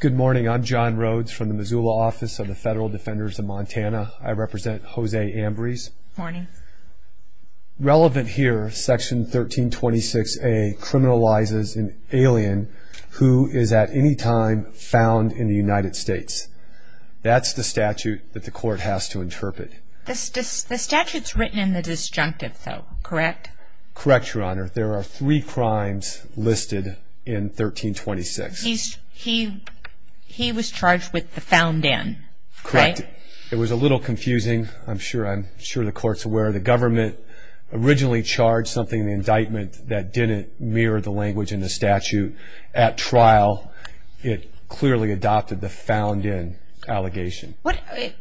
Good morning, I'm John Rhodes from the Missoula Office of the Federal Defenders of Montana. I represent Jose Ambriz. Good morning. Relevant here, section 1326A criminalizes an alien who is at any time found in the United States. That's the statute that the court has to interpret. The statute's written in the disjunctive though, correct? Correct, Your Honor. There are three crimes listed in 1326. He was charged with the found in, right? Correct. It was a little confusing. I'm sure the court's aware. The government originally charged something in the indictment that didn't mirror the language in the statute. At trial, it clearly adopted the found in allegation.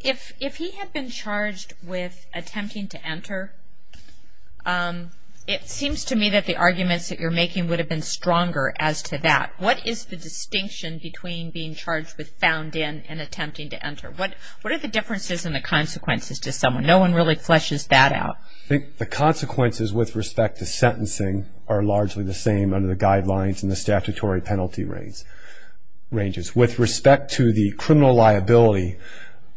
If he had been charged with attempting to enter, it seems to me that the arguments that you're making would have been stronger as to that. What is the distinction between being charged with found in and attempting to enter? What are the differences in the consequences to someone? No one really fleshes that out. I think the consequences with respect to sentencing are largely the same under the guidelines in the statutory penalty ranges. With respect to the criminal liability,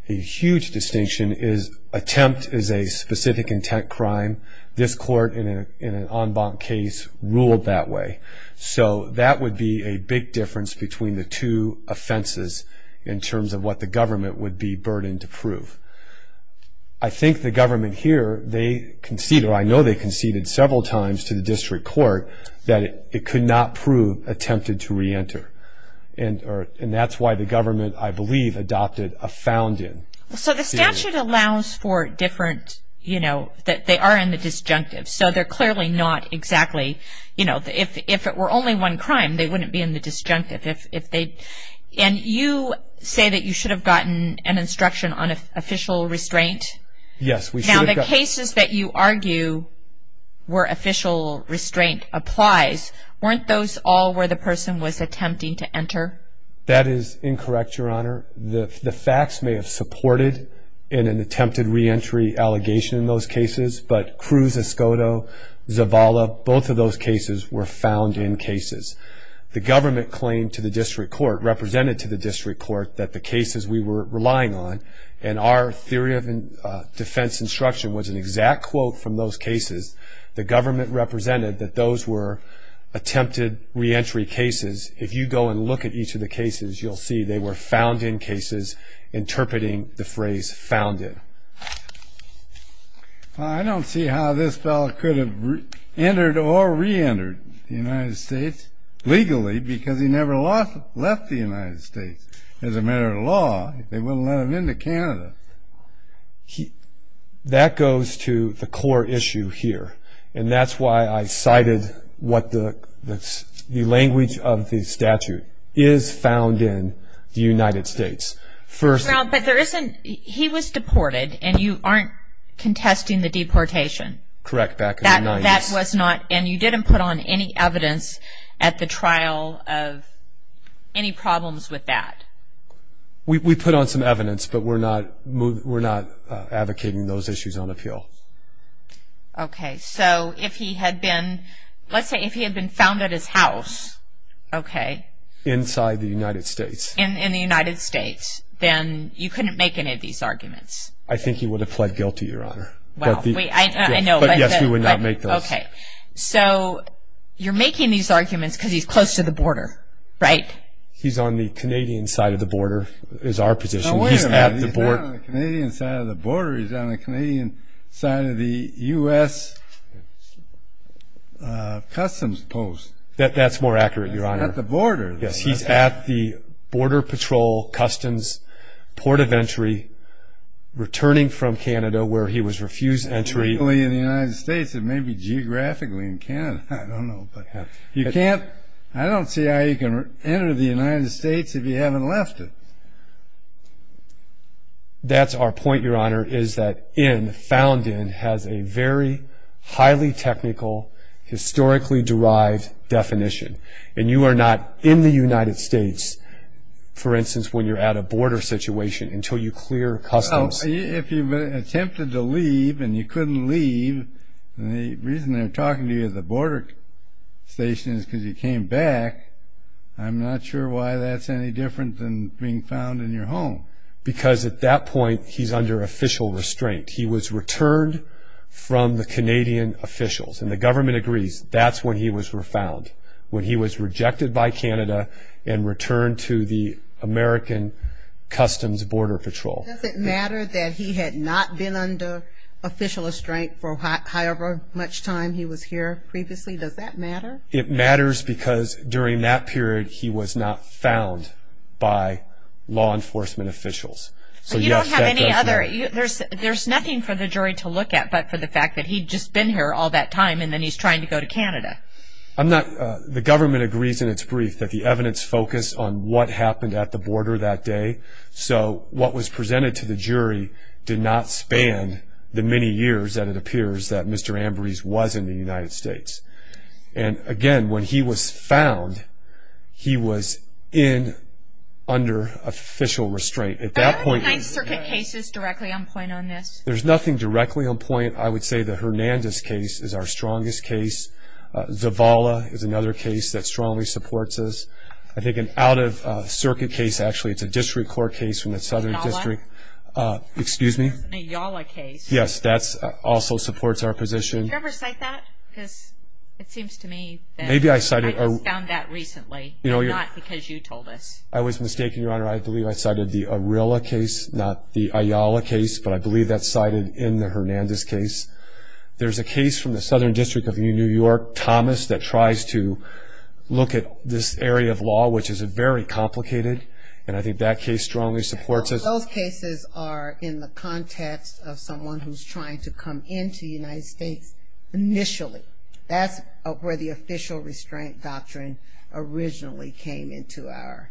a huge distinction is attempt is a specific intent crime. This court in an en banc case ruled that way. That would be a big difference between the two offenses in terms of what the government would be burdened to prove. I think the government here, I know they conceded several times to the district court that it could not prove attempted to reenter. That's why the government, I believe, adopted a found in. So the statute allows for different, you know, that they are in the disjunctive. So they're clearly not exactly, you know, if it were only one crime, they wouldn't be in the disjunctive. And you say that you should have gotten an instruction on official restraint? Yes. Now the cases that you argue where official restraint applies, weren't those all where the person was attempting to enter? That is incorrect, Your Honor. The facts may have supported in an attempted reentry allegation in those cases, but Cruz-Escoto, Zavala, both of those cases were found in cases. The government claimed to the district court, represented to the district court that the cases we were relying on, and our theory of defense instruction was an exact quote from those cases. The government represented that those were attempted reentry cases. If you go and look at each of the cases, you'll see they were found in cases, interpreting the phrase found in. I don't see how this fellow could have entered or reentered the United States legally, because he never left the United States as a matter of law. They wouldn't let him into Canada. That goes to the core issue here, and that's why I cited what the language of the statute is found in the United States. He was deported, and you aren't contesting the deportation. Correct, back in the 90s. And you didn't put on any evidence at the trial of any problems with that? We put on some evidence, but we're not advocating those issues on appeal. Okay, so if he had been, let's say if he had been found at his house. Okay. Inside the United States. In the United States, then you couldn't make any of these arguments. I think he would have pled guilty, Your Honor. Well, I know. But yes, we would not make those. Okay, so you're making these arguments because he's close to the border, right? He's on the Canadian side of the border is our position. Oh, wait a minute. He's not on the Canadian side of the border. He's on the Canadian side of the U.S. Customs post. That's more accurate, Your Honor. He's at the border. Yes, he's at the Border Patrol Customs port of entry, returning from Canada where he was refused entry. Legally in the United States, and maybe geographically in Canada. I don't know. I don't see how you can enter the United States if you haven't left it. That's our point, Your Honor, is that in, found in, has a very highly technical, historically derived definition. And you are not in the United States, for instance, when you're at a border situation, until you clear customs. Well, if you attempted to leave and you couldn't leave, and the reason they're talking to you at the border station is because you came back, I'm not sure why that's any different than being found in your home. Because at that point, he's under official restraint. He was returned from the Canadian officials. And the government agrees that's when he was found, when he was rejected by Canada and returned to the American Customs Border Patrol. Does it matter that he had not been under official restraint for however much time he was here previously? Does that matter? It matters because during that period, he was not found by law enforcement officials. So, yes, that does matter. There's nothing for the jury to look at but for the fact that he'd just been here all that time, and then he's trying to go to Canada. The government agrees in its brief that the evidence focused on what happened at the border that day. So what was presented to the jury did not span the many years that it appears that Mr. Ambrose was in the United States. And, again, when he was found, he was in under official restraint. Are there any nine circuit cases directly on point on this? There's nothing directly on point. I would say the Hernandez case is our strongest case. Zavala is another case that strongly supports us. I think an out-of-circuit case, actually, it's a district court case from the Southern District. Ayala? Excuse me? The Ayala case. Yes, that also supports our position. Did you ever cite that? Because it seems to me that I just found that recently and not because you told us. I was mistaken, Your Honor. I believe I cited the Arilla case, not the Ayala case, but I believe that's cited in the Hernandez case. There's a case from the Southern District of New York, Thomas, that tries to look at this area of law, which is very complicated, and I think that case strongly supports us. Those cases are in the context of someone who's trying to come into the United States initially. That's where the official restraint doctrine originally came into our...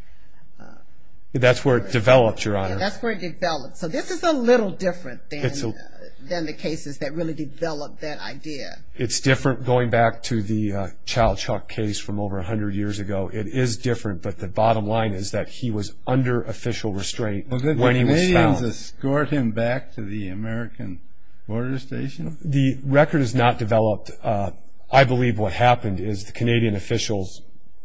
That's where it developed, Your Honor. That's where it developed. So this is a little different than the cases that really developed that idea. It's different going back to the child shock case from over 100 years ago. It is different, but the bottom line is that he was under official restraint when he was found. Well, did the Canadians escort him back to the American Border Station? The record is not developed. I believe what happened is the Canadian officials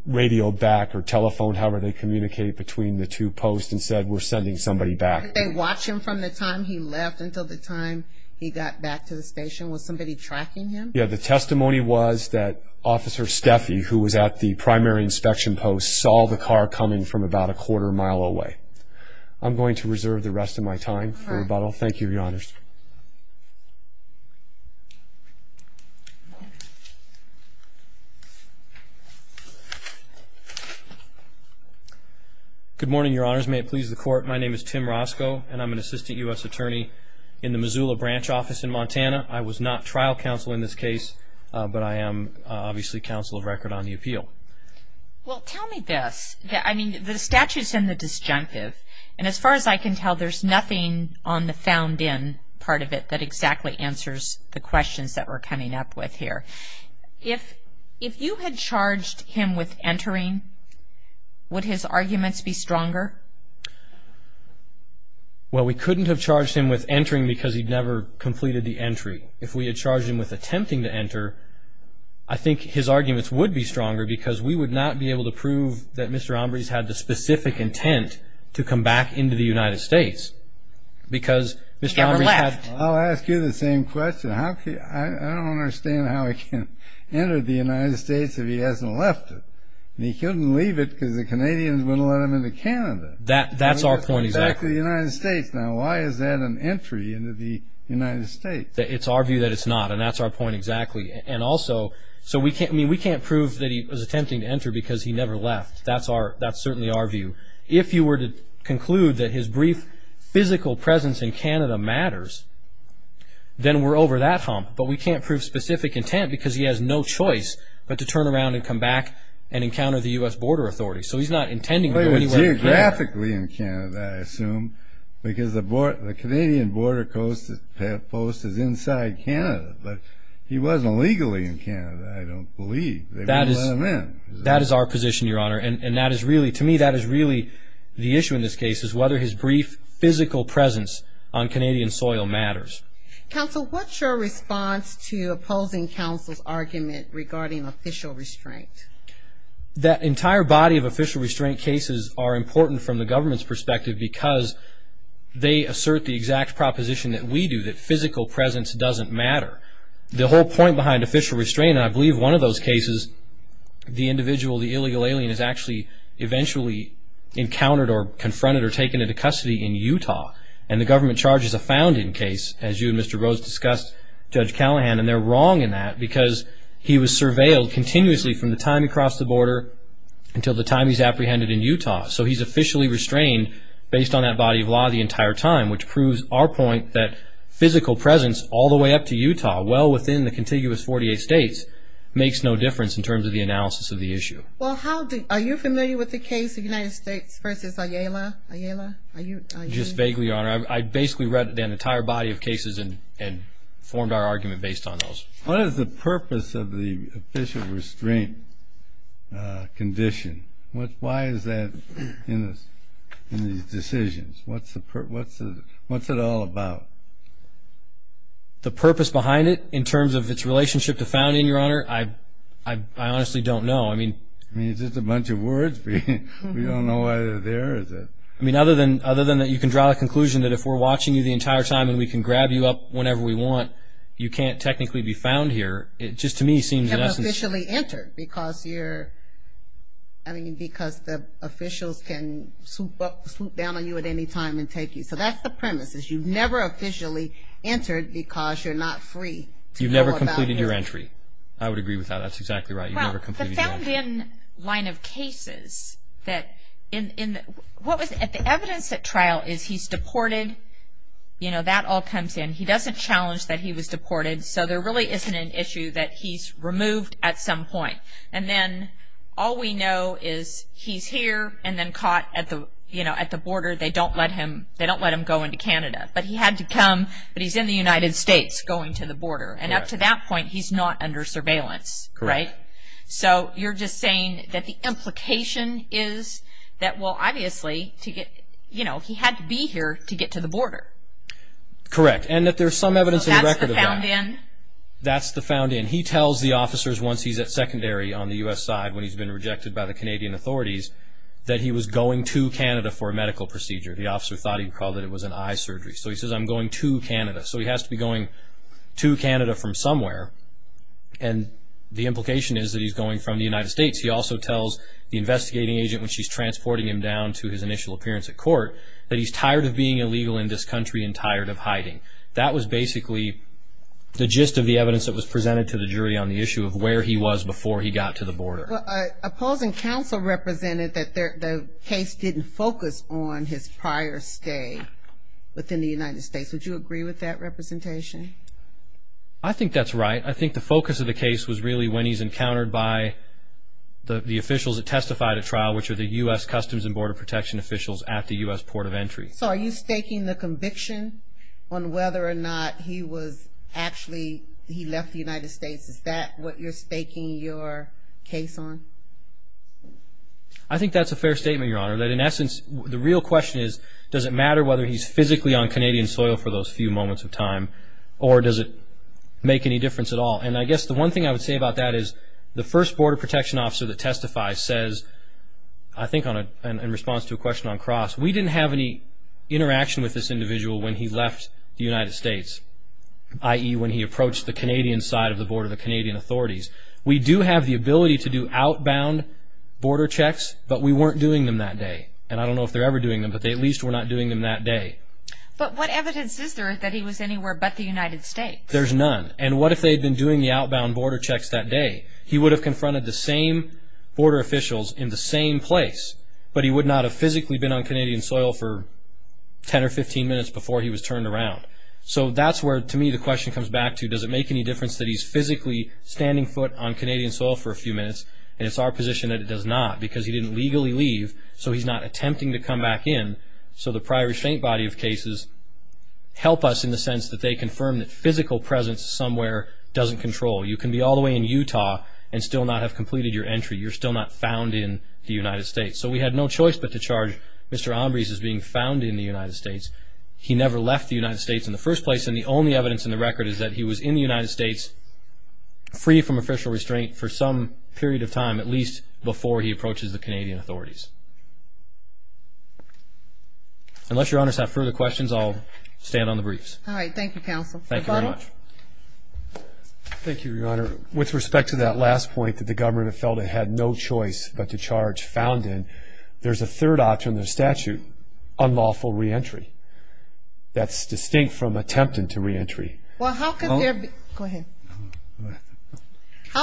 radioed back or telephoned, however they communicate, between the two posts and said, We're sending somebody back. Did they watch him from the time he left until the time he got back to the station? Was somebody tracking him? Yeah, the testimony was that Officer Steffi, who was at the primary inspection post, saw the car coming from about a quarter mile away. I'm going to reserve the rest of my time for rebuttal. Thank you, Your Honors. Good morning, Your Honors. May it please the Court, my name is Tim Roscoe, and I'm an assistant U.S. attorney in the Missoula branch office in Montana. I was not trial counsel in this case, but I am obviously counsel of record on the appeal. Well, tell me this. I mean, the statute's in the disjunctive, and as far as I can tell there's nothing on the found in part of it that exactly answers the questions that we're coming up with here. If you had charged him with entering, would his arguments be stronger? Well, we couldn't have charged him with entering because he'd never completed the entry. If we had charged him with attempting to enter, I think his arguments would be stronger because we would not be able to prove that Mr. Ombres had the specific intent to come back into the United States because Mr. Ombres had Never left. I'll ask you the same question. I don't understand how he can enter the United States if he hasn't left it. And he couldn't leave it because the Canadians wouldn't let him into Canada. That's our point, exactly. Back to the United States. Now, why is that an entry into the United States? It's our view that it's not, and that's our point exactly. And also, so we can't prove that he was attempting to enter because he never left. That's certainly our view. If you were to conclude that his brief physical presence in Canada matters, then we're over that hump. But we can't prove specific intent because he has no choice but to turn around and come back and encounter the U.S. Border Authority. So he's not intending to go anywhere in Canada. But he was geographically in Canada, I assume, because the Canadian border post is inside Canada. But he wasn't legally in Canada, I don't believe. They wouldn't let him in. That is our position, Your Honor. And to me, that is really the issue in this case, is whether his brief physical presence on Canadian soil matters. Counsel, what's your response to opposing counsel's argument regarding official restraint? That entire body of official restraint cases are important from the government's perspective because they assert the exact proposition that we do, that physical presence doesn't matter. The whole point behind official restraint, and I believe one of those cases, the individual, the illegal alien, is actually eventually encountered or confronted or taken into custody in Utah. And the government charges a founding case, as you and Mr. Rose discussed, Judge Callahan, and they're wrong in that because he was surveilled continuously from the time he crossed the border until the time he's apprehended in Utah. So he's officially restrained based on that body of law the entire time, which proves our point that physical presence all the way up to Utah, well within the contiguous 48 states, makes no difference in terms of the analysis of the issue. Well, are you familiar with the case of the United States v. Ayala? Just vaguely, Your Honor. I basically read the entire body of cases and formed our argument based on those. What is the purpose of the official restraint condition? Why is that in these decisions? What's it all about? The purpose behind it in terms of its relationship to founding, Your Honor, I honestly don't know. I mean, it's just a bunch of words. We don't know why they're there. I mean, other than that you can draw a conclusion that if we're watching you the entire time and we can grab you up whenever we want, you can't technically be found here. It just to me seems in essence. You're not officially entered because the officials can swoop down on you at any time and take you. So that's the premise is you've never officially entered because you're not free to go about your business. You've never completed your entry. I would agree with that. That's exactly right. You've never completed your entry. Well, the found in line of cases that in the evidence at trial is he's deported. You know, that all comes in. He doesn't challenge that he was deported. So there really isn't an issue that he's removed at some point. And then all we know is he's here and then caught at the border. They don't let him go into Canada. And up to that point he's not under surveillance, right? Correct. So you're just saying that the implication is that, well, obviously to get, you know, he had to be here to get to the border. Correct. And that there's some evidence in the record of that. So that's the found in? That's the found in. He tells the officers once he's at secondary on the U.S. side when he's been rejected by the Canadian authorities that he was going to Canada for a medical procedure. The officer thought he called it was an eye surgery. So he says, I'm going to Canada. So he has to be going to Canada from somewhere. And the implication is that he's going from the United States. He also tells the investigating agent when she's transporting him down to his initial appearance at court that he's tired of being illegal in this country and tired of hiding. That was basically the gist of the evidence that was presented to the jury on the issue of where he was before he got to the border. Well, opposing counsel represented that the case didn't focus on his prior stay within the United States. Would you agree with that representation? I think that's right. I think the focus of the case was really when he's encountered by the officials that testified at trial, which are the U.S. Customs and Border Protection officials at the U.S. Port of Entry. So are you staking the conviction on whether or not he was actually, he left the United States? Is that what you're staking your case on? I think that's a fair statement, Your Honor. The real question is does it matter whether he's physically on Canadian soil for those few moments of time or does it make any difference at all? And I guess the one thing I would say about that is the first Border Protection officer that testifies says, I think in response to a question on Cross, we didn't have any interaction with this individual when he left the United States, i.e. when he approached the Canadian side of the board of the Canadian authorities. We do have the ability to do outbound border checks, but we weren't doing them that day. And I don't know if they're ever doing them, but they at least were not doing them that day. But what evidence is there that he was anywhere but the United States? There's none. And what if they had been doing the outbound border checks that day? He would have confronted the same border officials in the same place, but he would not have physically been on Canadian soil for 10 or 15 minutes before he was turned around. So that's where, to me, the question comes back to, does it make any difference that he's physically standing foot on Canadian soil for a few minutes? And it's our position that it does not because he didn't legally leave, so he's not attempting to come back in. So the prior restraint body of cases help us in the sense that they confirm that physical presence somewhere doesn't control. You can be all the way in Utah and still not have completed your entry. You're still not found in the United States. So we had no choice but to charge Mr. Ombrice as being found in the United States. He never left the United States in the first place, and the only evidence in the record is that he was in the United States free from official restraint for some period of time, at least before he approaches the Canadian authorities. Unless Your Honors have further questions, I'll stand on the briefs. All right. Thank you, Counsel. Thank you very much. Thank you, Your Honor. With respect to that last point that the government felt it had no choice but to charge found in, there's a third option in the statute, unlawful reentry. That's distinct from attempting to reentry. Well, how could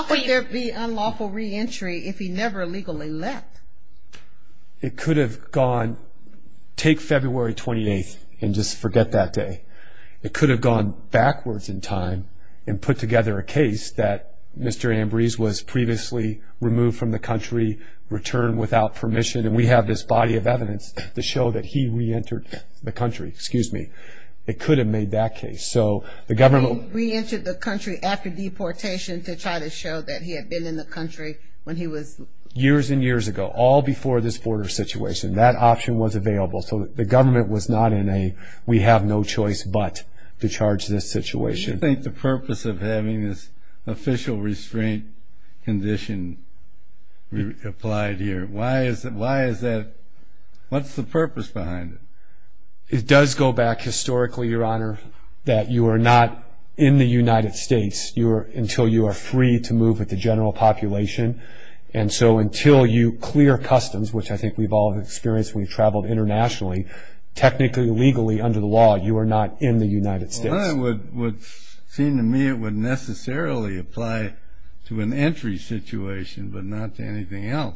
there be unlawful reentry if he never legally left? It could have gone, take February 28th and just forget that day. It could have gone backwards in time and put together a case that Mr. Ombrice was previously removed from the country, returned without permission, and we have this body of evidence to show that he reentered the country. Excuse me. It could have made that case. So the government – He reentered the country after deportation to try to show that he had been in the country when he was – Years and years ago, all before this border situation. That option was available. So the government was not in a we have no choice but to charge this situation. What do you think the purpose of having this official restraint condition applied here? Why is that? What's the purpose behind it? It does go back historically, Your Honor, that you are not in the United States until you are free to move with the general population. And so until you clear customs, which I think we've all experienced when we've traveled internationally, technically, legally, under the law, you are not in the United States. Well, then it would seem to me it would necessarily apply to an entry situation but not to anything else.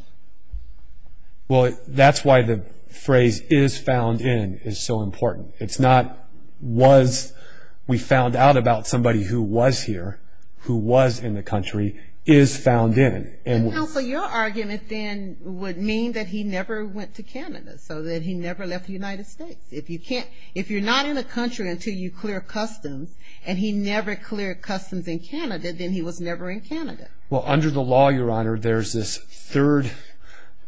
Well, that's why the phrase is found in is so important. It's not was we found out about somebody who was here, who was in the country, is found in. Counsel, your argument then would mean that he never went to Canada, so that he never left the United States. If you're not in a country until you clear customs and he never cleared customs in Canada, then he was never in Canada. Well, under the law, Your Honor, there's this third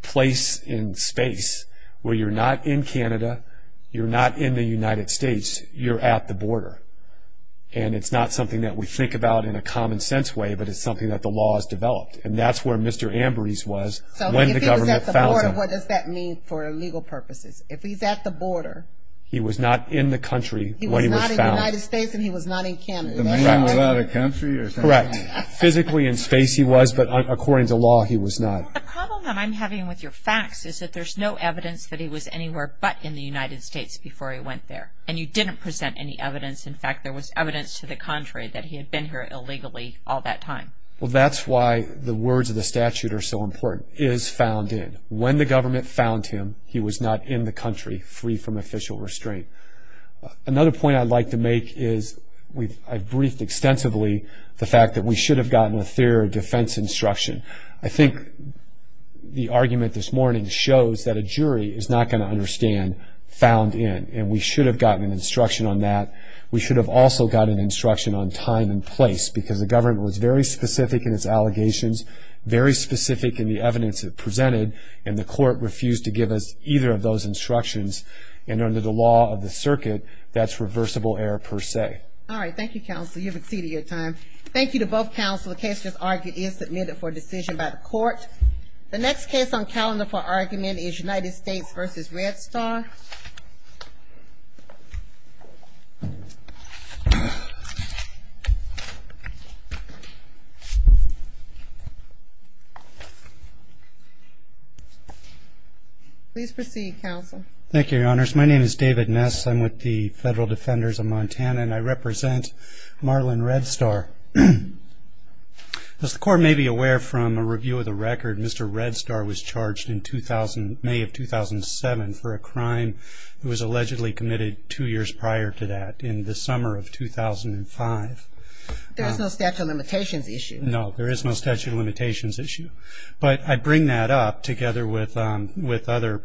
place in space where you're not in Canada, you're not in the United States, you're at the border. And it's not something that we think about in a common sense way, but it's something that the law has developed. And that's where Mr. Ambrose was when the government found him. So if he was at the border, what does that mean for legal purposes? If he's at the border, he was not in the country when he was found. He was not in the United States and he was not in Canada. Correct. Physically in space he was, but according to law he was not. Well, the problem that I'm having with your facts is that there's no evidence that he was anywhere but in the United States before he went there. And you didn't present any evidence. In fact, there was evidence to the contrary that he had been here illegally all that time. Well, that's why the words of the statute are so important, is found in. When the government found him, he was not in the country free from official restraint. Another point I'd like to make is I've briefed extensively the fact that we should have gotten a theory of defense instruction. I think the argument this morning shows that a jury is not going to understand found in, and we should have gotten an instruction on that. We should have also gotten an instruction on time and place because the government was very specific in its allegations, very specific in the evidence it presented, and the court refused to give us either of those instructions. And under the law of the circuit, that's reversible error per se. All right. Thank you, counsel. You've exceeded your time. Thank you to both counsel. The case just argued is submitted for decision by the court. The next case on calendar for argument is United States v. Red Star. Please proceed, counsel. Thank you, Your Honors. My name is David Ness. I'm with the Federal Defenders of Montana, and I represent Marlon Red Star. As the court may be aware from a review of the record, Mr. Red Star was charged in May of 2007 for a crime that was allegedly committed two years prior to that in the summer of 2005. There is no statute of limitations issue. No, there is no statute of limitations issue. But I bring that up together with other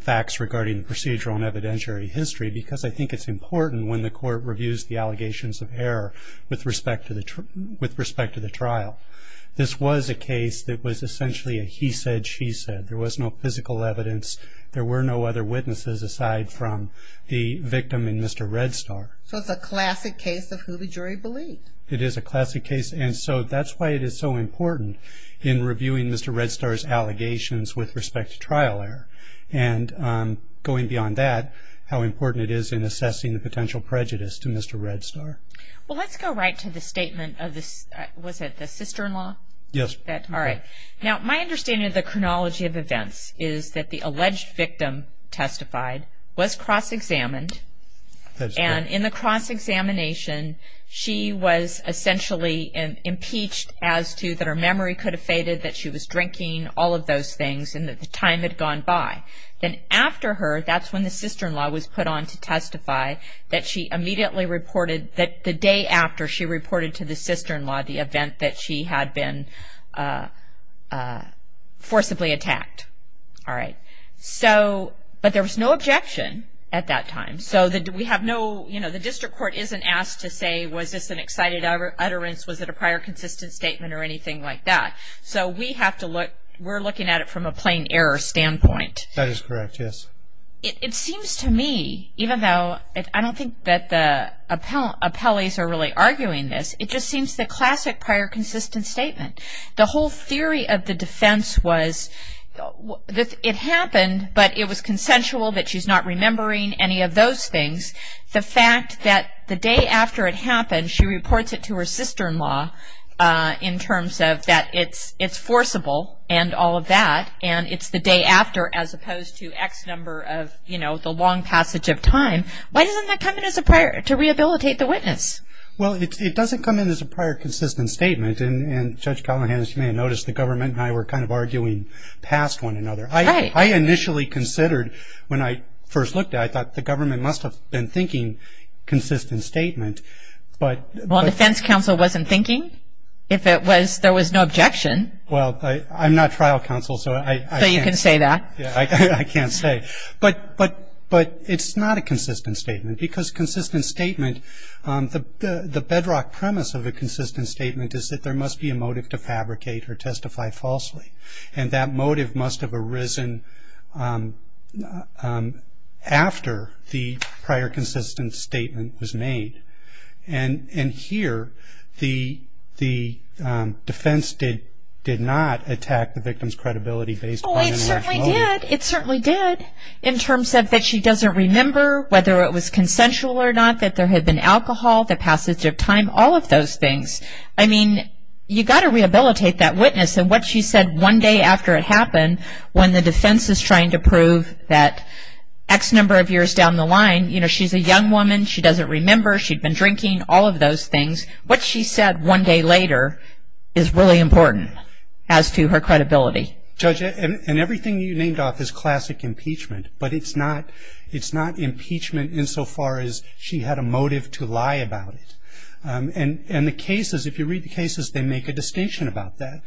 facts regarding procedural and evidentiary history because I think it's important when the court reviews the allegations of error with respect to the trial. This was a case that was essentially a he said, she said. There was no physical evidence. There were no other witnesses aside from the victim and Mr. Red Star. So it's a classic case of who the jury believed. It is a classic case, and so that's why it is so important in reviewing Mr. Red Star's allegations with respect to trial error. And going beyond that, how important it is in assessing the potential prejudice to Mr. Red Star. Well, let's go right to the statement of the, was it the sister-in-law? Yes. All right. Now, my understanding of the chronology of events is that the alleged victim testified, was cross-examined, and in the cross-examination, all of those things and that the time had gone by. Then after her, that's when the sister-in-law was put on to testify, that she immediately reported that the day after she reported to the sister-in-law the event that she had been forcibly attacked. All right. So, but there was no objection at that time. So we have no, you know, the district court isn't asked to say, was this an excited utterance? Was it a prior consistent statement or anything like that? So we have to look, we're looking at it from a plain error standpoint. That is correct, yes. It seems to me, even though I don't think that the appellees are really arguing this, it just seems the classic prior consistent statement. The whole theory of the defense was it happened, but it was consensual, that she's not remembering any of those things. The fact that the day after it happened, she reports it to her sister-in-law in terms of that it's forcible and all of that, and it's the day after, as opposed to X number of, you know, the long passage of time, why doesn't that come in as a prior to rehabilitate the witness? Well, it doesn't come in as a prior consistent statement, and Judge Callahan, as you may have noticed, the government and I were kind of arguing past one another. Right. I initially considered, when I first looked at it, I thought the government must have been thinking consistent statement. Well, defense counsel wasn't thinking? If it was, there was no objection. Well, I'm not trial counsel, so I can't. So you can say that. I can't say. But it's not a consistent statement, because consistent statement, the bedrock premise of a consistent statement is that there must be a motive to fabricate or testify falsely, and that motive must have arisen after the prior consistent statement was made. And here, the defense did not attack the victim's credibility based on intellectual motive. Well, it certainly did. It certainly did in terms of that she doesn't remember whether it was consensual or not, that there had been alcohol, the passage of time, all of those things. I mean, you've got to rehabilitate that witness, and what she said one day after it happened, when the defense is trying to prove that X number of years down the line, you know, she's a young woman, she doesn't remember, she'd been drinking, all of those things. What she said one day later is really important as to her credibility. Judge, and everything you named off is classic impeachment, but it's not impeachment insofar as she had a motive to lie about it. And the cases, if you read the cases, they make a distinction about that.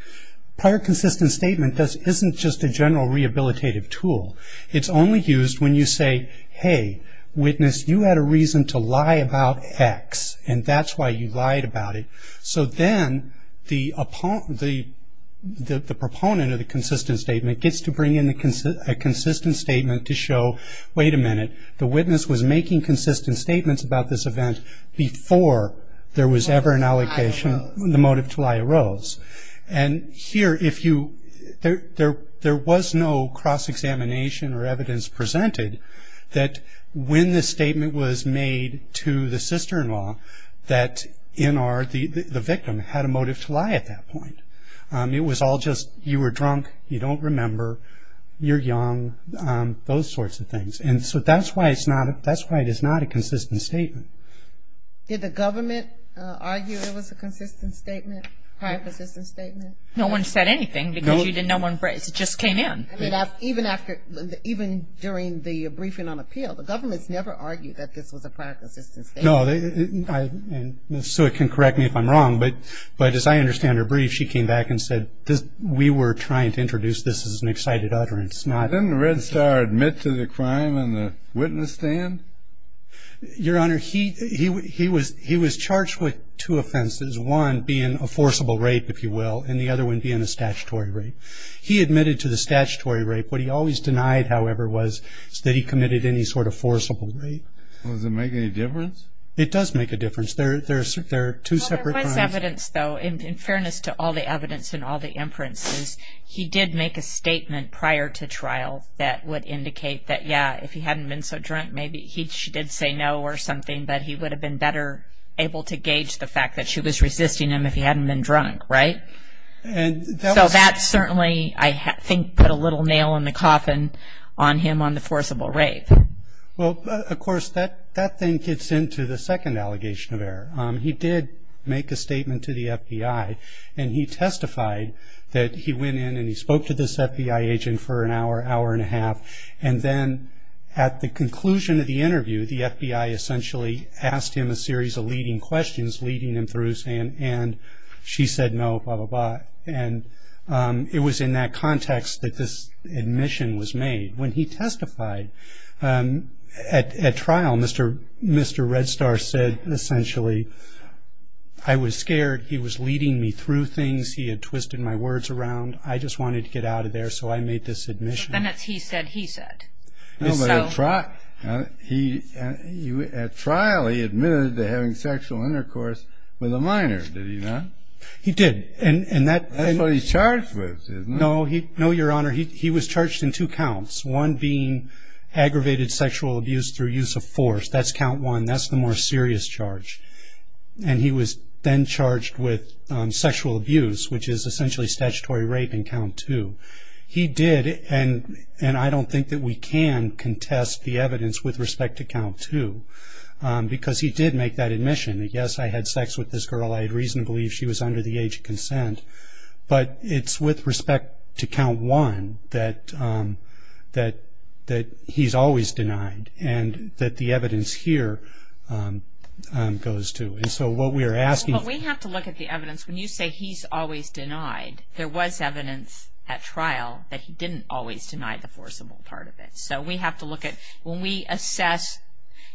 Prior consistent statement isn't just a general rehabilitative tool. It's only used when you say, hey, witness, you had a reason to lie about X, and that's why you lied about it. So then the proponent of the consistent statement gets to bring in a consistent statement to show, wait a minute, the witness was making consistent statements about this event before there was ever an allegation, the motive to lie arose. And here if you – there was no cross-examination or evidence presented that when the statement was made to the sister-in-law that NR, the victim, had a motive to lie at that point. It was all just you were drunk, you don't remember, you're young, those sorts of things. And so that's why it's not – that's why it is not a consistent statement. Did the government argue it was a consistent statement, prior consistent statement? No one said anything because you didn't know when – it just came in. I mean, even after – even during the briefing on appeal, the government's never argued that this was a prior consistent statement. No, and Ms. Sewick can correct me if I'm wrong, but as I understand her brief, she came back and said we were trying to introduce this as an excited utterance, not – Didn't Red Star admit to the crime in the witness stand? Your Honor, he was charged with two offenses, one being a forcible rape, if you will, and the other one being a statutory rape. He admitted to the statutory rape. What he always denied, however, was that he committed any sort of forcible rape. Well, does it make any difference? It does make a difference. There are two separate crimes. Well, there was evidence, though. In fairness to all the evidence and all the inferences, he did make a statement prior to trial that would indicate that, yeah, if he hadn't been so drunk, maybe he did say no or something, but he would have been better able to gauge the fact that she was resisting him if he hadn't been drunk, right? So that certainly, I think, put a little nail in the coffin on him on the forcible rape. Well, of course, that then gets into the second allegation of error. He did make a statement to the FBI, and he testified that he went in and he spoke to this FBI agent for an hour, hour and a half, and then at the conclusion of the interview, the FBI essentially asked him a series of leading questions, leading him through, and she said no, blah, blah, blah. And it was in that context that this admission was made. When he testified at trial, Mr. Redstar said, essentially, I was scared. He was leading me through things. He had twisted my words around. I just wanted to get out of there, so I made this admission. And that's he said he said. No, but at trial he admitted to having sexual intercourse with a minor, did he not? He did. That's what he's charged with, isn't it? No, Your Honor, he was charged in two counts, one being aggravated sexual abuse through use of force. That's count one. That's the more serious charge. And he was then charged with sexual abuse, which is essentially statutory rape in count two. He did, and I don't think that we can contest the evidence with respect to count two, because he did make that admission. Yes, I had sex with this girl. I had reason to believe she was under the age of consent. But it's with respect to count one that he's always denied and that the evidence here goes to. And so what we are asking for. Well, we have to look at the evidence. When you say he's always denied, there was evidence at trial that he didn't always deny the forcible part of it. So we have to look at when we assess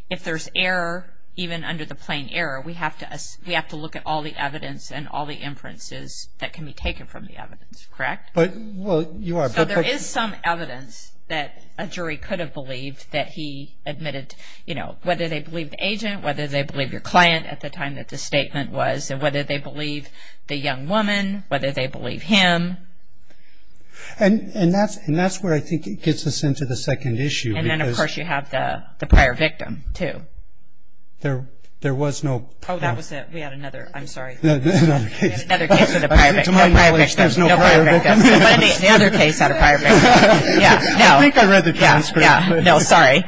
if there's error, even under the plain error, we have to look at all the evidence and all the inferences that can be taken from the evidence, correct? Well, you are. So there is some evidence that a jury could have believed that he admitted, you know, whether they believe the agent, whether they believe your client at the time that the statement was, and whether they believe the young woman, whether they believe him. And that's where I think it gets us into the second issue. And then, of course, you have the prior victim, too. There was no prior. Oh, that was it. We had another. I'm sorry. Another case with a prior victim. To my knowledge, there's no prior victim. The other case had a prior victim. I think I read the transcript. No, sorry.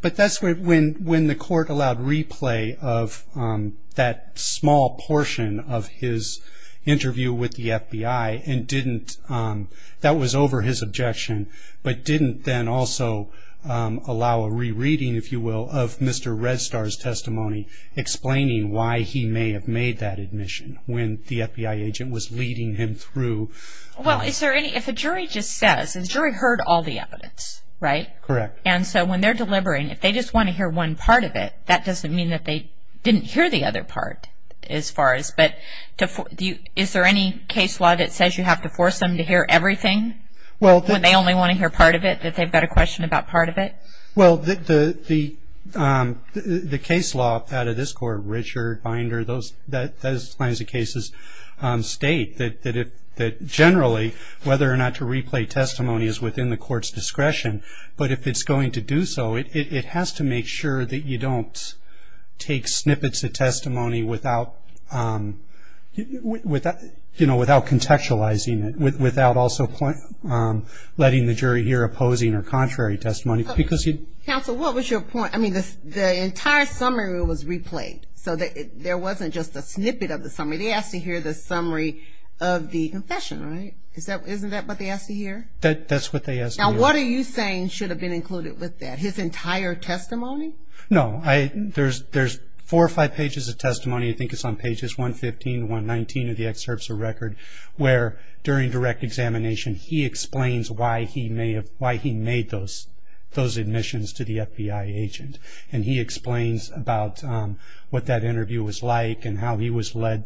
But that's when the court allowed replay of that small portion of his interview with the FBI and didn't, that was over his objection, but didn't then also allow a rereading, if you will, of Mr. Redstar's testimony, explaining why he may have made that admission when the FBI agent was leading him through. Well, if a jury just says, the jury heard all the evidence, right? Correct. And so when they're delivering, if they just want to hear one part of it, that doesn't mean that they didn't hear the other part as far as, but is there any case law that says you have to force them to hear everything when they only want to hear part of it, that they've got a question about part of it? Well, the case law out of this court, Richard, Binder, those kinds of cases state that generally whether or not to replay testimony is within the court's discretion. But if it's going to do so, it has to make sure that you don't take snippets of testimony without contextualizing it, without also letting the jury hear opposing or contrary testimony. Counsel, what was your point? I mean, the entire summary was replayed. So there wasn't just a snippet of the summary. They asked to hear the summary of the confession, right? Isn't that what they asked to hear? That's what they asked to hear. Now, what are you saying should have been included with that, his entire testimony? No. There's four or five pages of testimony, I think it's on pages 115 to 119 of the excerpts of record, where during direct examination he explains why he made those admissions to the FBI agent. And he explains about what that interview was like and how he was led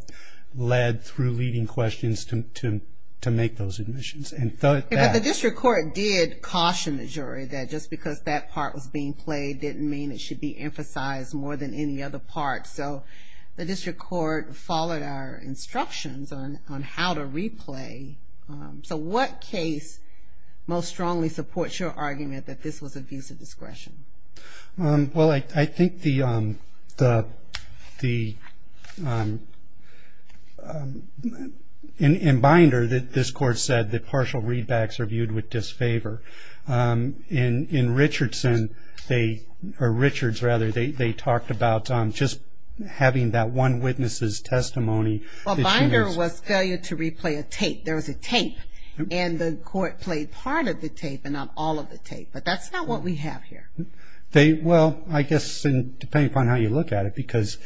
through leading questions to make those admissions. But the district court did caution the jury that just because that part was being played didn't mean it should be emphasized more than any other part. So the district court followed our instructions on how to replay. So what case most strongly supports your argument that this was abuse of discretion? Well, I think in Binder this court said that partial readbacks are viewed with disfavor. In Richardson, or Richards rather, they talked about just having that one witness's testimony. Well, Binder was failure to replay a tape. There was a tape, and the court played part of the tape and not all of the tape. But that's not what we have here. Well, I guess depending upon how you look at it, because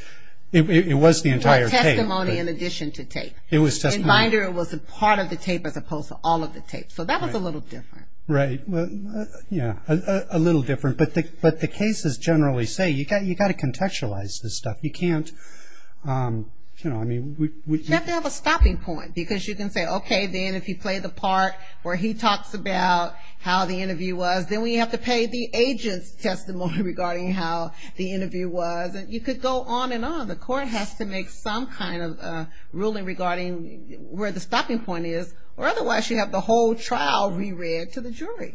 it was the entire tape. Or testimony in addition to tape. In Binder it was a part of the tape as opposed to all of the tape. So that was a little different. Right. Yeah, a little different. But the cases generally say you've got to contextualize this stuff. You can't, you know, I mean. You have to have a stopping point. Because you can say, okay, then if you play the part where he talks about how the interview was, then we have to pay the agent's testimony regarding how the interview was. And you could go on and on. The court has to make some kind of ruling regarding where the stopping point is. Or otherwise you have the whole trial reread to the jury.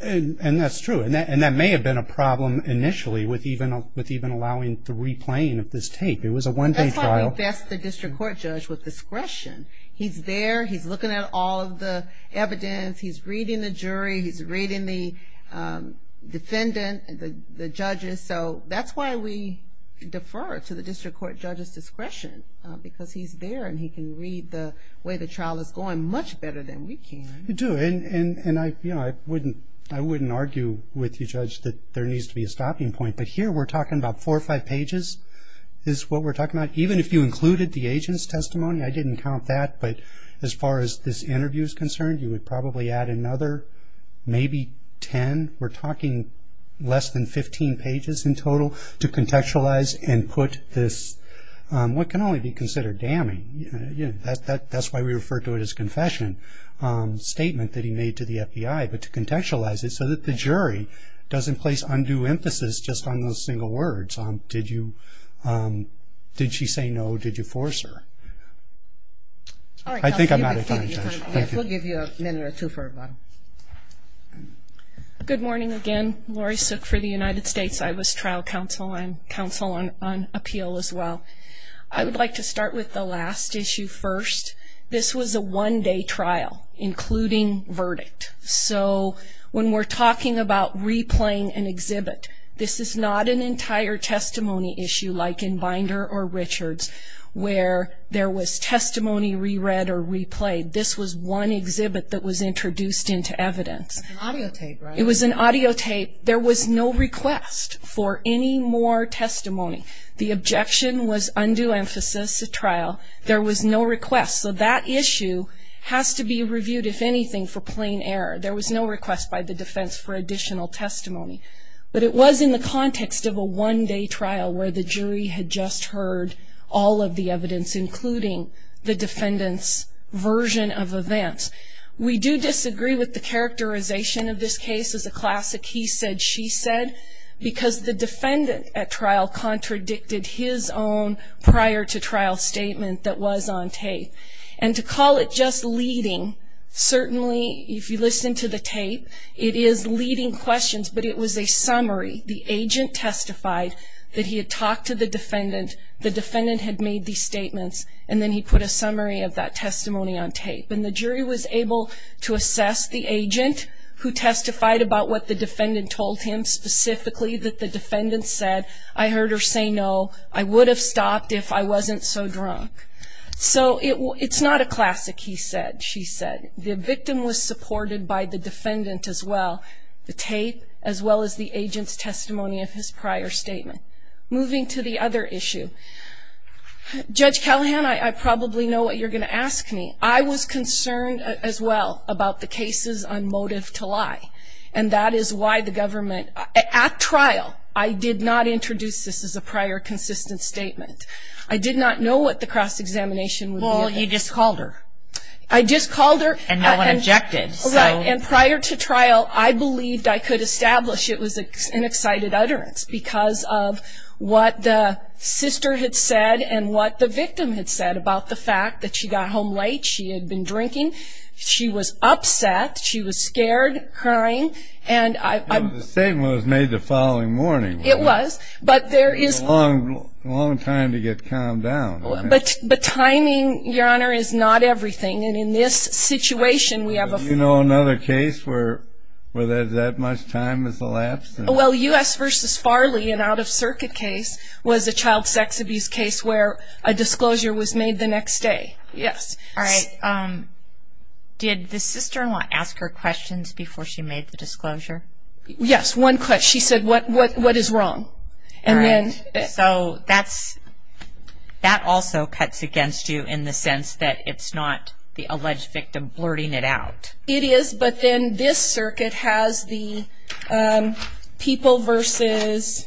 And that's true. And that may have been a problem initially with even allowing the replaying of this tape. It was a one-day trial. That's why we vest the district court judge with discretion. He's there. He's looking at all of the evidence. He's reading the jury. He's reading the defendant, the judges. So that's why we defer to the district court judge's discretion. Because he's there and he can read the way the trial is going much better than we can. You do. And, you know, I wouldn't argue with you, Judge, that there needs to be a stopping point. But here we're talking about four or five pages is what we're talking about. Even if you included the agent's testimony, I didn't count that. But as far as this interview is concerned, you would probably add another maybe ten. We're talking less than 15 pages in total to contextualize and put this what can only be considered damning. That's why we refer to it as confession statement that he made to the FBI. But to contextualize it so that the jury doesn't place undue emphasis just on those single words. Did she say no? Did you force her? I think I'm out of time, Judge. We'll give you a minute or two for a bottle. Good morning again. Laurie Suk for the United States. I was trial counsel. I'm counsel on appeal as well. I would like to start with the last issue first. This was a one-day trial, including verdict. So when we're talking about replaying an exhibit, this is not an entire testimony issue like in Binder or Richards where there was testimony reread or replayed. This was one exhibit that was introduced into evidence. It was an audio tape, right? It was an audio tape. There was no request for any more testimony. The objection was undue emphasis at trial. There was no request. So that issue has to be reviewed, if anything, for plain error. There was no request by the defense for additional testimony. But it was in the context of a one-day trial where the jury had just heard all of the evidence, including the defendant's version of events. We do disagree with the characterization of this case as a classic he said, she said, because the defendant at trial contradicted his own prior-to-trial statement that was on tape. And to call it just leading, certainly if you listen to the tape, it is leading questions, but it was a summary. The agent testified that he had talked to the defendant, the defendant had made these statements, and then he put a summary of that testimony on tape. And the jury was able to assess the agent who testified about what the defendant told him, specifically that the defendant said, I heard her say no, I would have stopped if I wasn't so drunk. So it's not a classic he said, she said. The victim was supported by the defendant as well, the tape, as well as the agent's testimony of his prior statement. Moving to the other issue. Judge Callahan, I probably know what you're going to ask me. I was concerned as well about the cases on motive to lie. And that is why the government, at trial, I did not introduce this as a prior consistent statement. I did not know what the cross-examination would be. Well, you just called her. I just called her. And no one objected. And prior to trial, I believed I could establish it was an excited utterance because of what the sister had said and what the victim had said about the fact that she got home late, she had been drinking, she was upset, she was scared, crying. And the statement was made the following morning. It was. It was a long time to get calmed down. But timing, Your Honor, is not everything. And in this situation, we have a... Do you know another case where there's that much time has elapsed? Well, U.S. v. Farley, an out-of-circuit case, was a child sex abuse case where a disclosure was made the next day. Yes. All right. Did the sister-in-law ask her questions before she made the disclosure? Yes, one question. She said, what is wrong? All right. So that also cuts against you in the sense that it's not the alleged victim blurting it out. It is. But then this circuit has the people versus...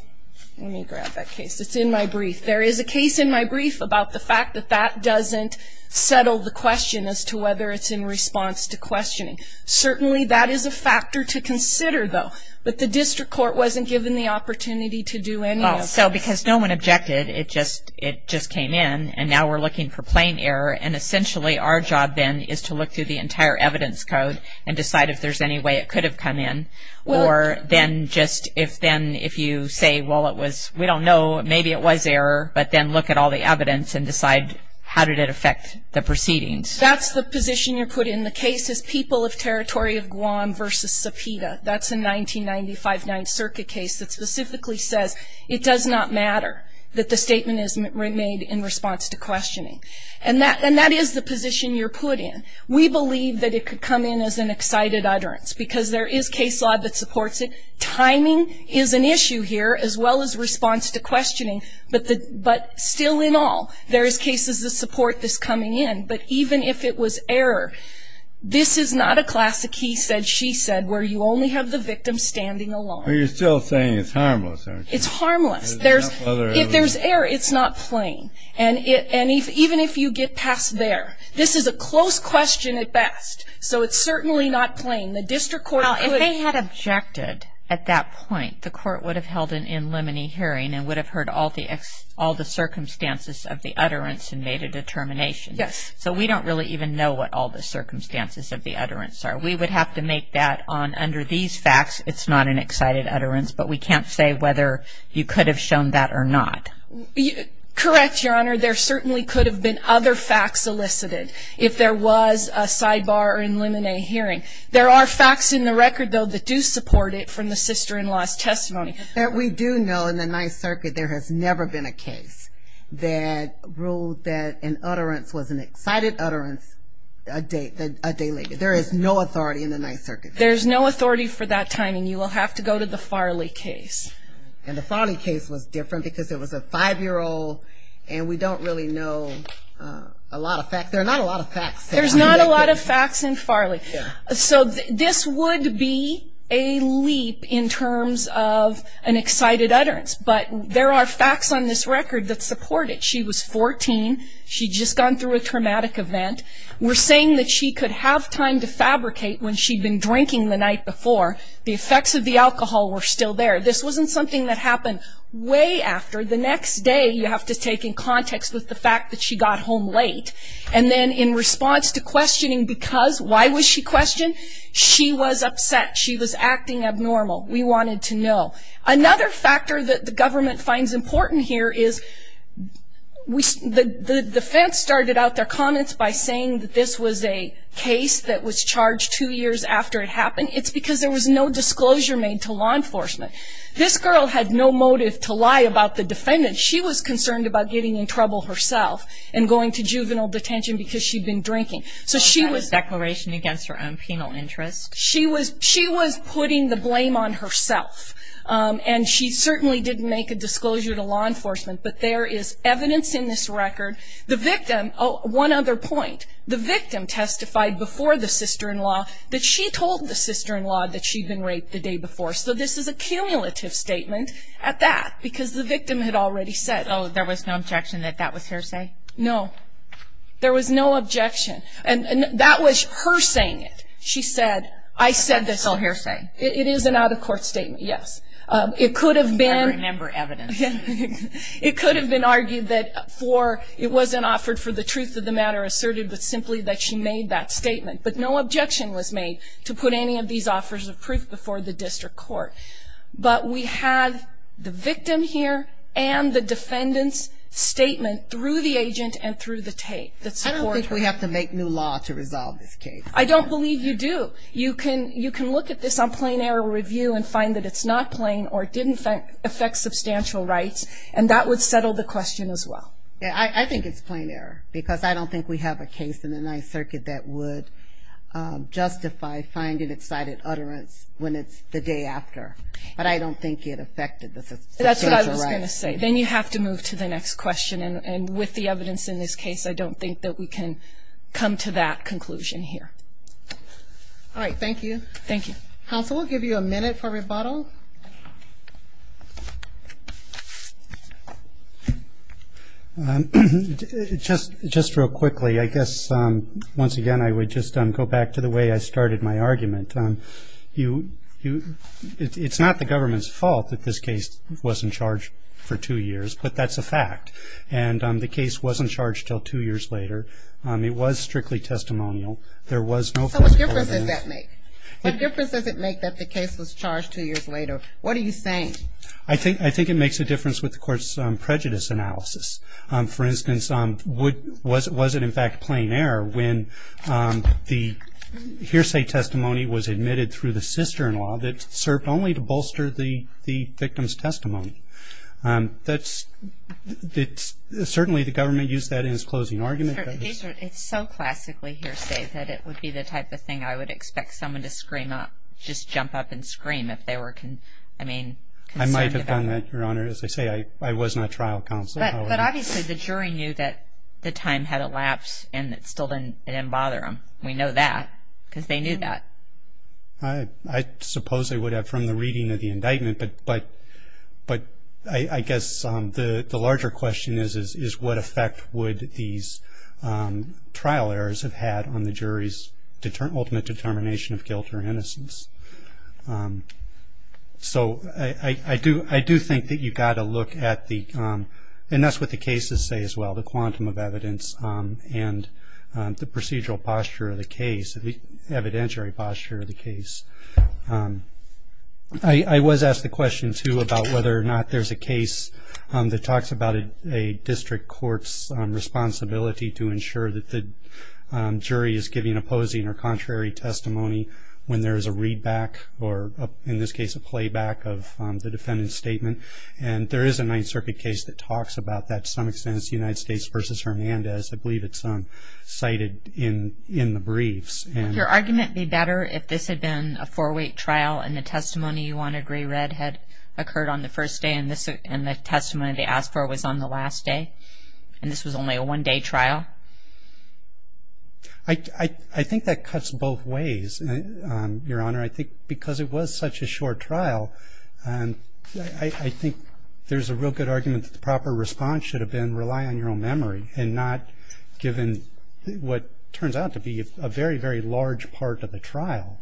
Let me grab that case. It's in my brief. There is a case in my brief about the fact that that doesn't settle the question as to whether it's in response to questioning. Certainly that is a factor to consider, though. But the district court wasn't given the opportunity to do any of this. Well, so because no one objected, it just came in. And now we're looking for plain error. And essentially our job then is to look through the entire evidence code and decide if there's any way it could have come in. Or then just if then if you say, well, it was, we don't know, maybe it was error, but then look at all the evidence and decide how did it affect the proceedings. That's the position you're putting. The case is People of Territory of Guam versus Sepeda. That's a 1995 Ninth Circuit case that specifically says it does not matter that the statement is made in response to questioning. And that is the position you're put in. We believe that it could come in as an excited utterance because there is case law that supports it. Timing is an issue here as well as response to questioning. But still in all, there is cases of support that's coming in. But even if it was error, this is not a classic he said, she said, where you only have the victim standing alone. Well, you're still saying it's harmless, aren't you? It's harmless. If there's error, it's not plain. And even if you get past there, this is a close question at best. So it's certainly not plain. The district court could. If they had objected at that point, the court would have held an in limine hearing and would have heard all the circumstances of the utterance and made a determination. Yes. So we don't really even know what all the circumstances of the utterance are. We would have to make that on under these facts. It's not an excited utterance. But we can't say whether you could have shown that or not. Correct, Your Honor. There certainly could have been other facts elicited if there was a sidebar in limine hearing. There are facts in the record, though, that do support it from the sister-in-law's testimony. We do know in the Ninth Circuit there has never been a case that ruled that an utterance was an excited utterance a day later. There is no authority in the Ninth Circuit. There's no authority for that time. And you will have to go to the Farley case. And the Farley case was different because it was a five-year-old, and we don't really know a lot of facts. There are not a lot of facts. There's not a lot of facts in Farley. So this would be a leap in terms of an excited utterance. But there are facts on this record that support it. She was 14. She'd just gone through a traumatic event. We're saying that she could have time to fabricate when she'd been drinking the night before. The effects of the alcohol were still there. This wasn't something that happened way after. The next day you have to take in context with the fact that she got home late. And then in response to questioning because, why was she questioned? She was upset. She was acting abnormal. We wanted to know. Another factor that the government finds important here is the defense started out their comments And it's because there was no disclosure made to law enforcement. This girl had no motive to lie about the defendant. She was concerned about getting in trouble herself and going to juvenile detention because she'd been drinking. So she was putting the blame on herself. And she certainly didn't make a disclosure to law enforcement. But there is evidence in this record. One other point. The victim testified before the sister-in-law that she told the sister-in-law that she'd been raped the day before. So this is a cumulative statement at that because the victim had already said it. Oh, there was no objection that that was her say? No. There was no objection. And that was her saying it. She said, I said this. It's all her saying. It is an out-of-court statement, yes. I remember evidence. It could have been argued that it wasn't offered for the truth of the matter asserted, but simply that she made that statement. But no objection was made to put any of these offers of proof before the district court. But we have the victim here and the defendant's statement through the agent and through the tape that supports her. I don't think we have to make new law to resolve this case. I don't believe you do. You can look at this on plain error review and find that it's not plain or it didn't affect substantial rights, and that would settle the question as well. I think it's plain error because I don't think we have a case in the Ninth Circuit that would justify finding excited utterance when it's the day after. But I don't think it affected the substantial rights. That's what I was going to say. Then you have to move to the next question. And with the evidence in this case, I don't think that we can come to that conclusion here. All right, thank you. Thank you. Counsel, we'll give you a minute for rebuttal. Just real quickly, I guess, once again, I would just go back to the way I started my argument. It's not the government's fault that this case was in charge for two years, but that's a fact. And the case wasn't charged until two years later. It was strictly testimonial. There was no fault. So what difference does that make? What difference does it make that the case was charged two years later? What are you saying? I think it makes a difference with the court's prejudice analysis. For instance, was it in fact plain error when the hearsay testimony was admitted through the sister-in-law that served only to bolster the victim's testimony? Certainly the government used that in its closing argument. It's so classically hearsay that it would be the type of thing I would expect someone to scream up, just jump up and scream if they were concerned about it. I might have done that, Your Honor. As I say, I was not trial counsel. But obviously the jury knew that the time had elapsed and it still didn't bother them. We know that because they knew that. I suppose I would have from the reading of the indictment. But I guess the larger question is, is what effect would these trial errors have had on the jury's ultimate determination of guilt or innocence? So I do think that you've got to look at the – and that's what the cases say as well, the quantum of evidence and the procedural posture of the case, the evidentiary posture of the case. I was asked the question, too, about whether or not there's a case that talks about a district court's responsibility to ensure that the jury is giving opposing or contrary testimony when there is a readback or, in this case, a playback of the defendant's statement. And there is a Ninth Circuit case that talks about that to some extent. It's the United States v. Hernandez. I believe it's cited in the briefs. Would your argument be better if this had been a four-week trial and the testimony you wanted re-read had occurred on the first day and the testimony they asked for was on the last day and this was only a one-day trial? I think that cuts both ways, Your Honor. I think because it was such a short trial, I think there's a real good argument that the proper response should have been rely on your own memory and not given what turns out to be a very, very large part of the trial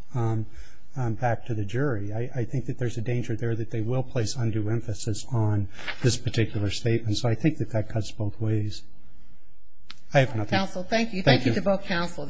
back to the jury. I think that there's a danger there that they will place undue emphasis on this particular statement. So I think that that cuts both ways. I have nothing. Counsel, thank you. Thank you to both counsel.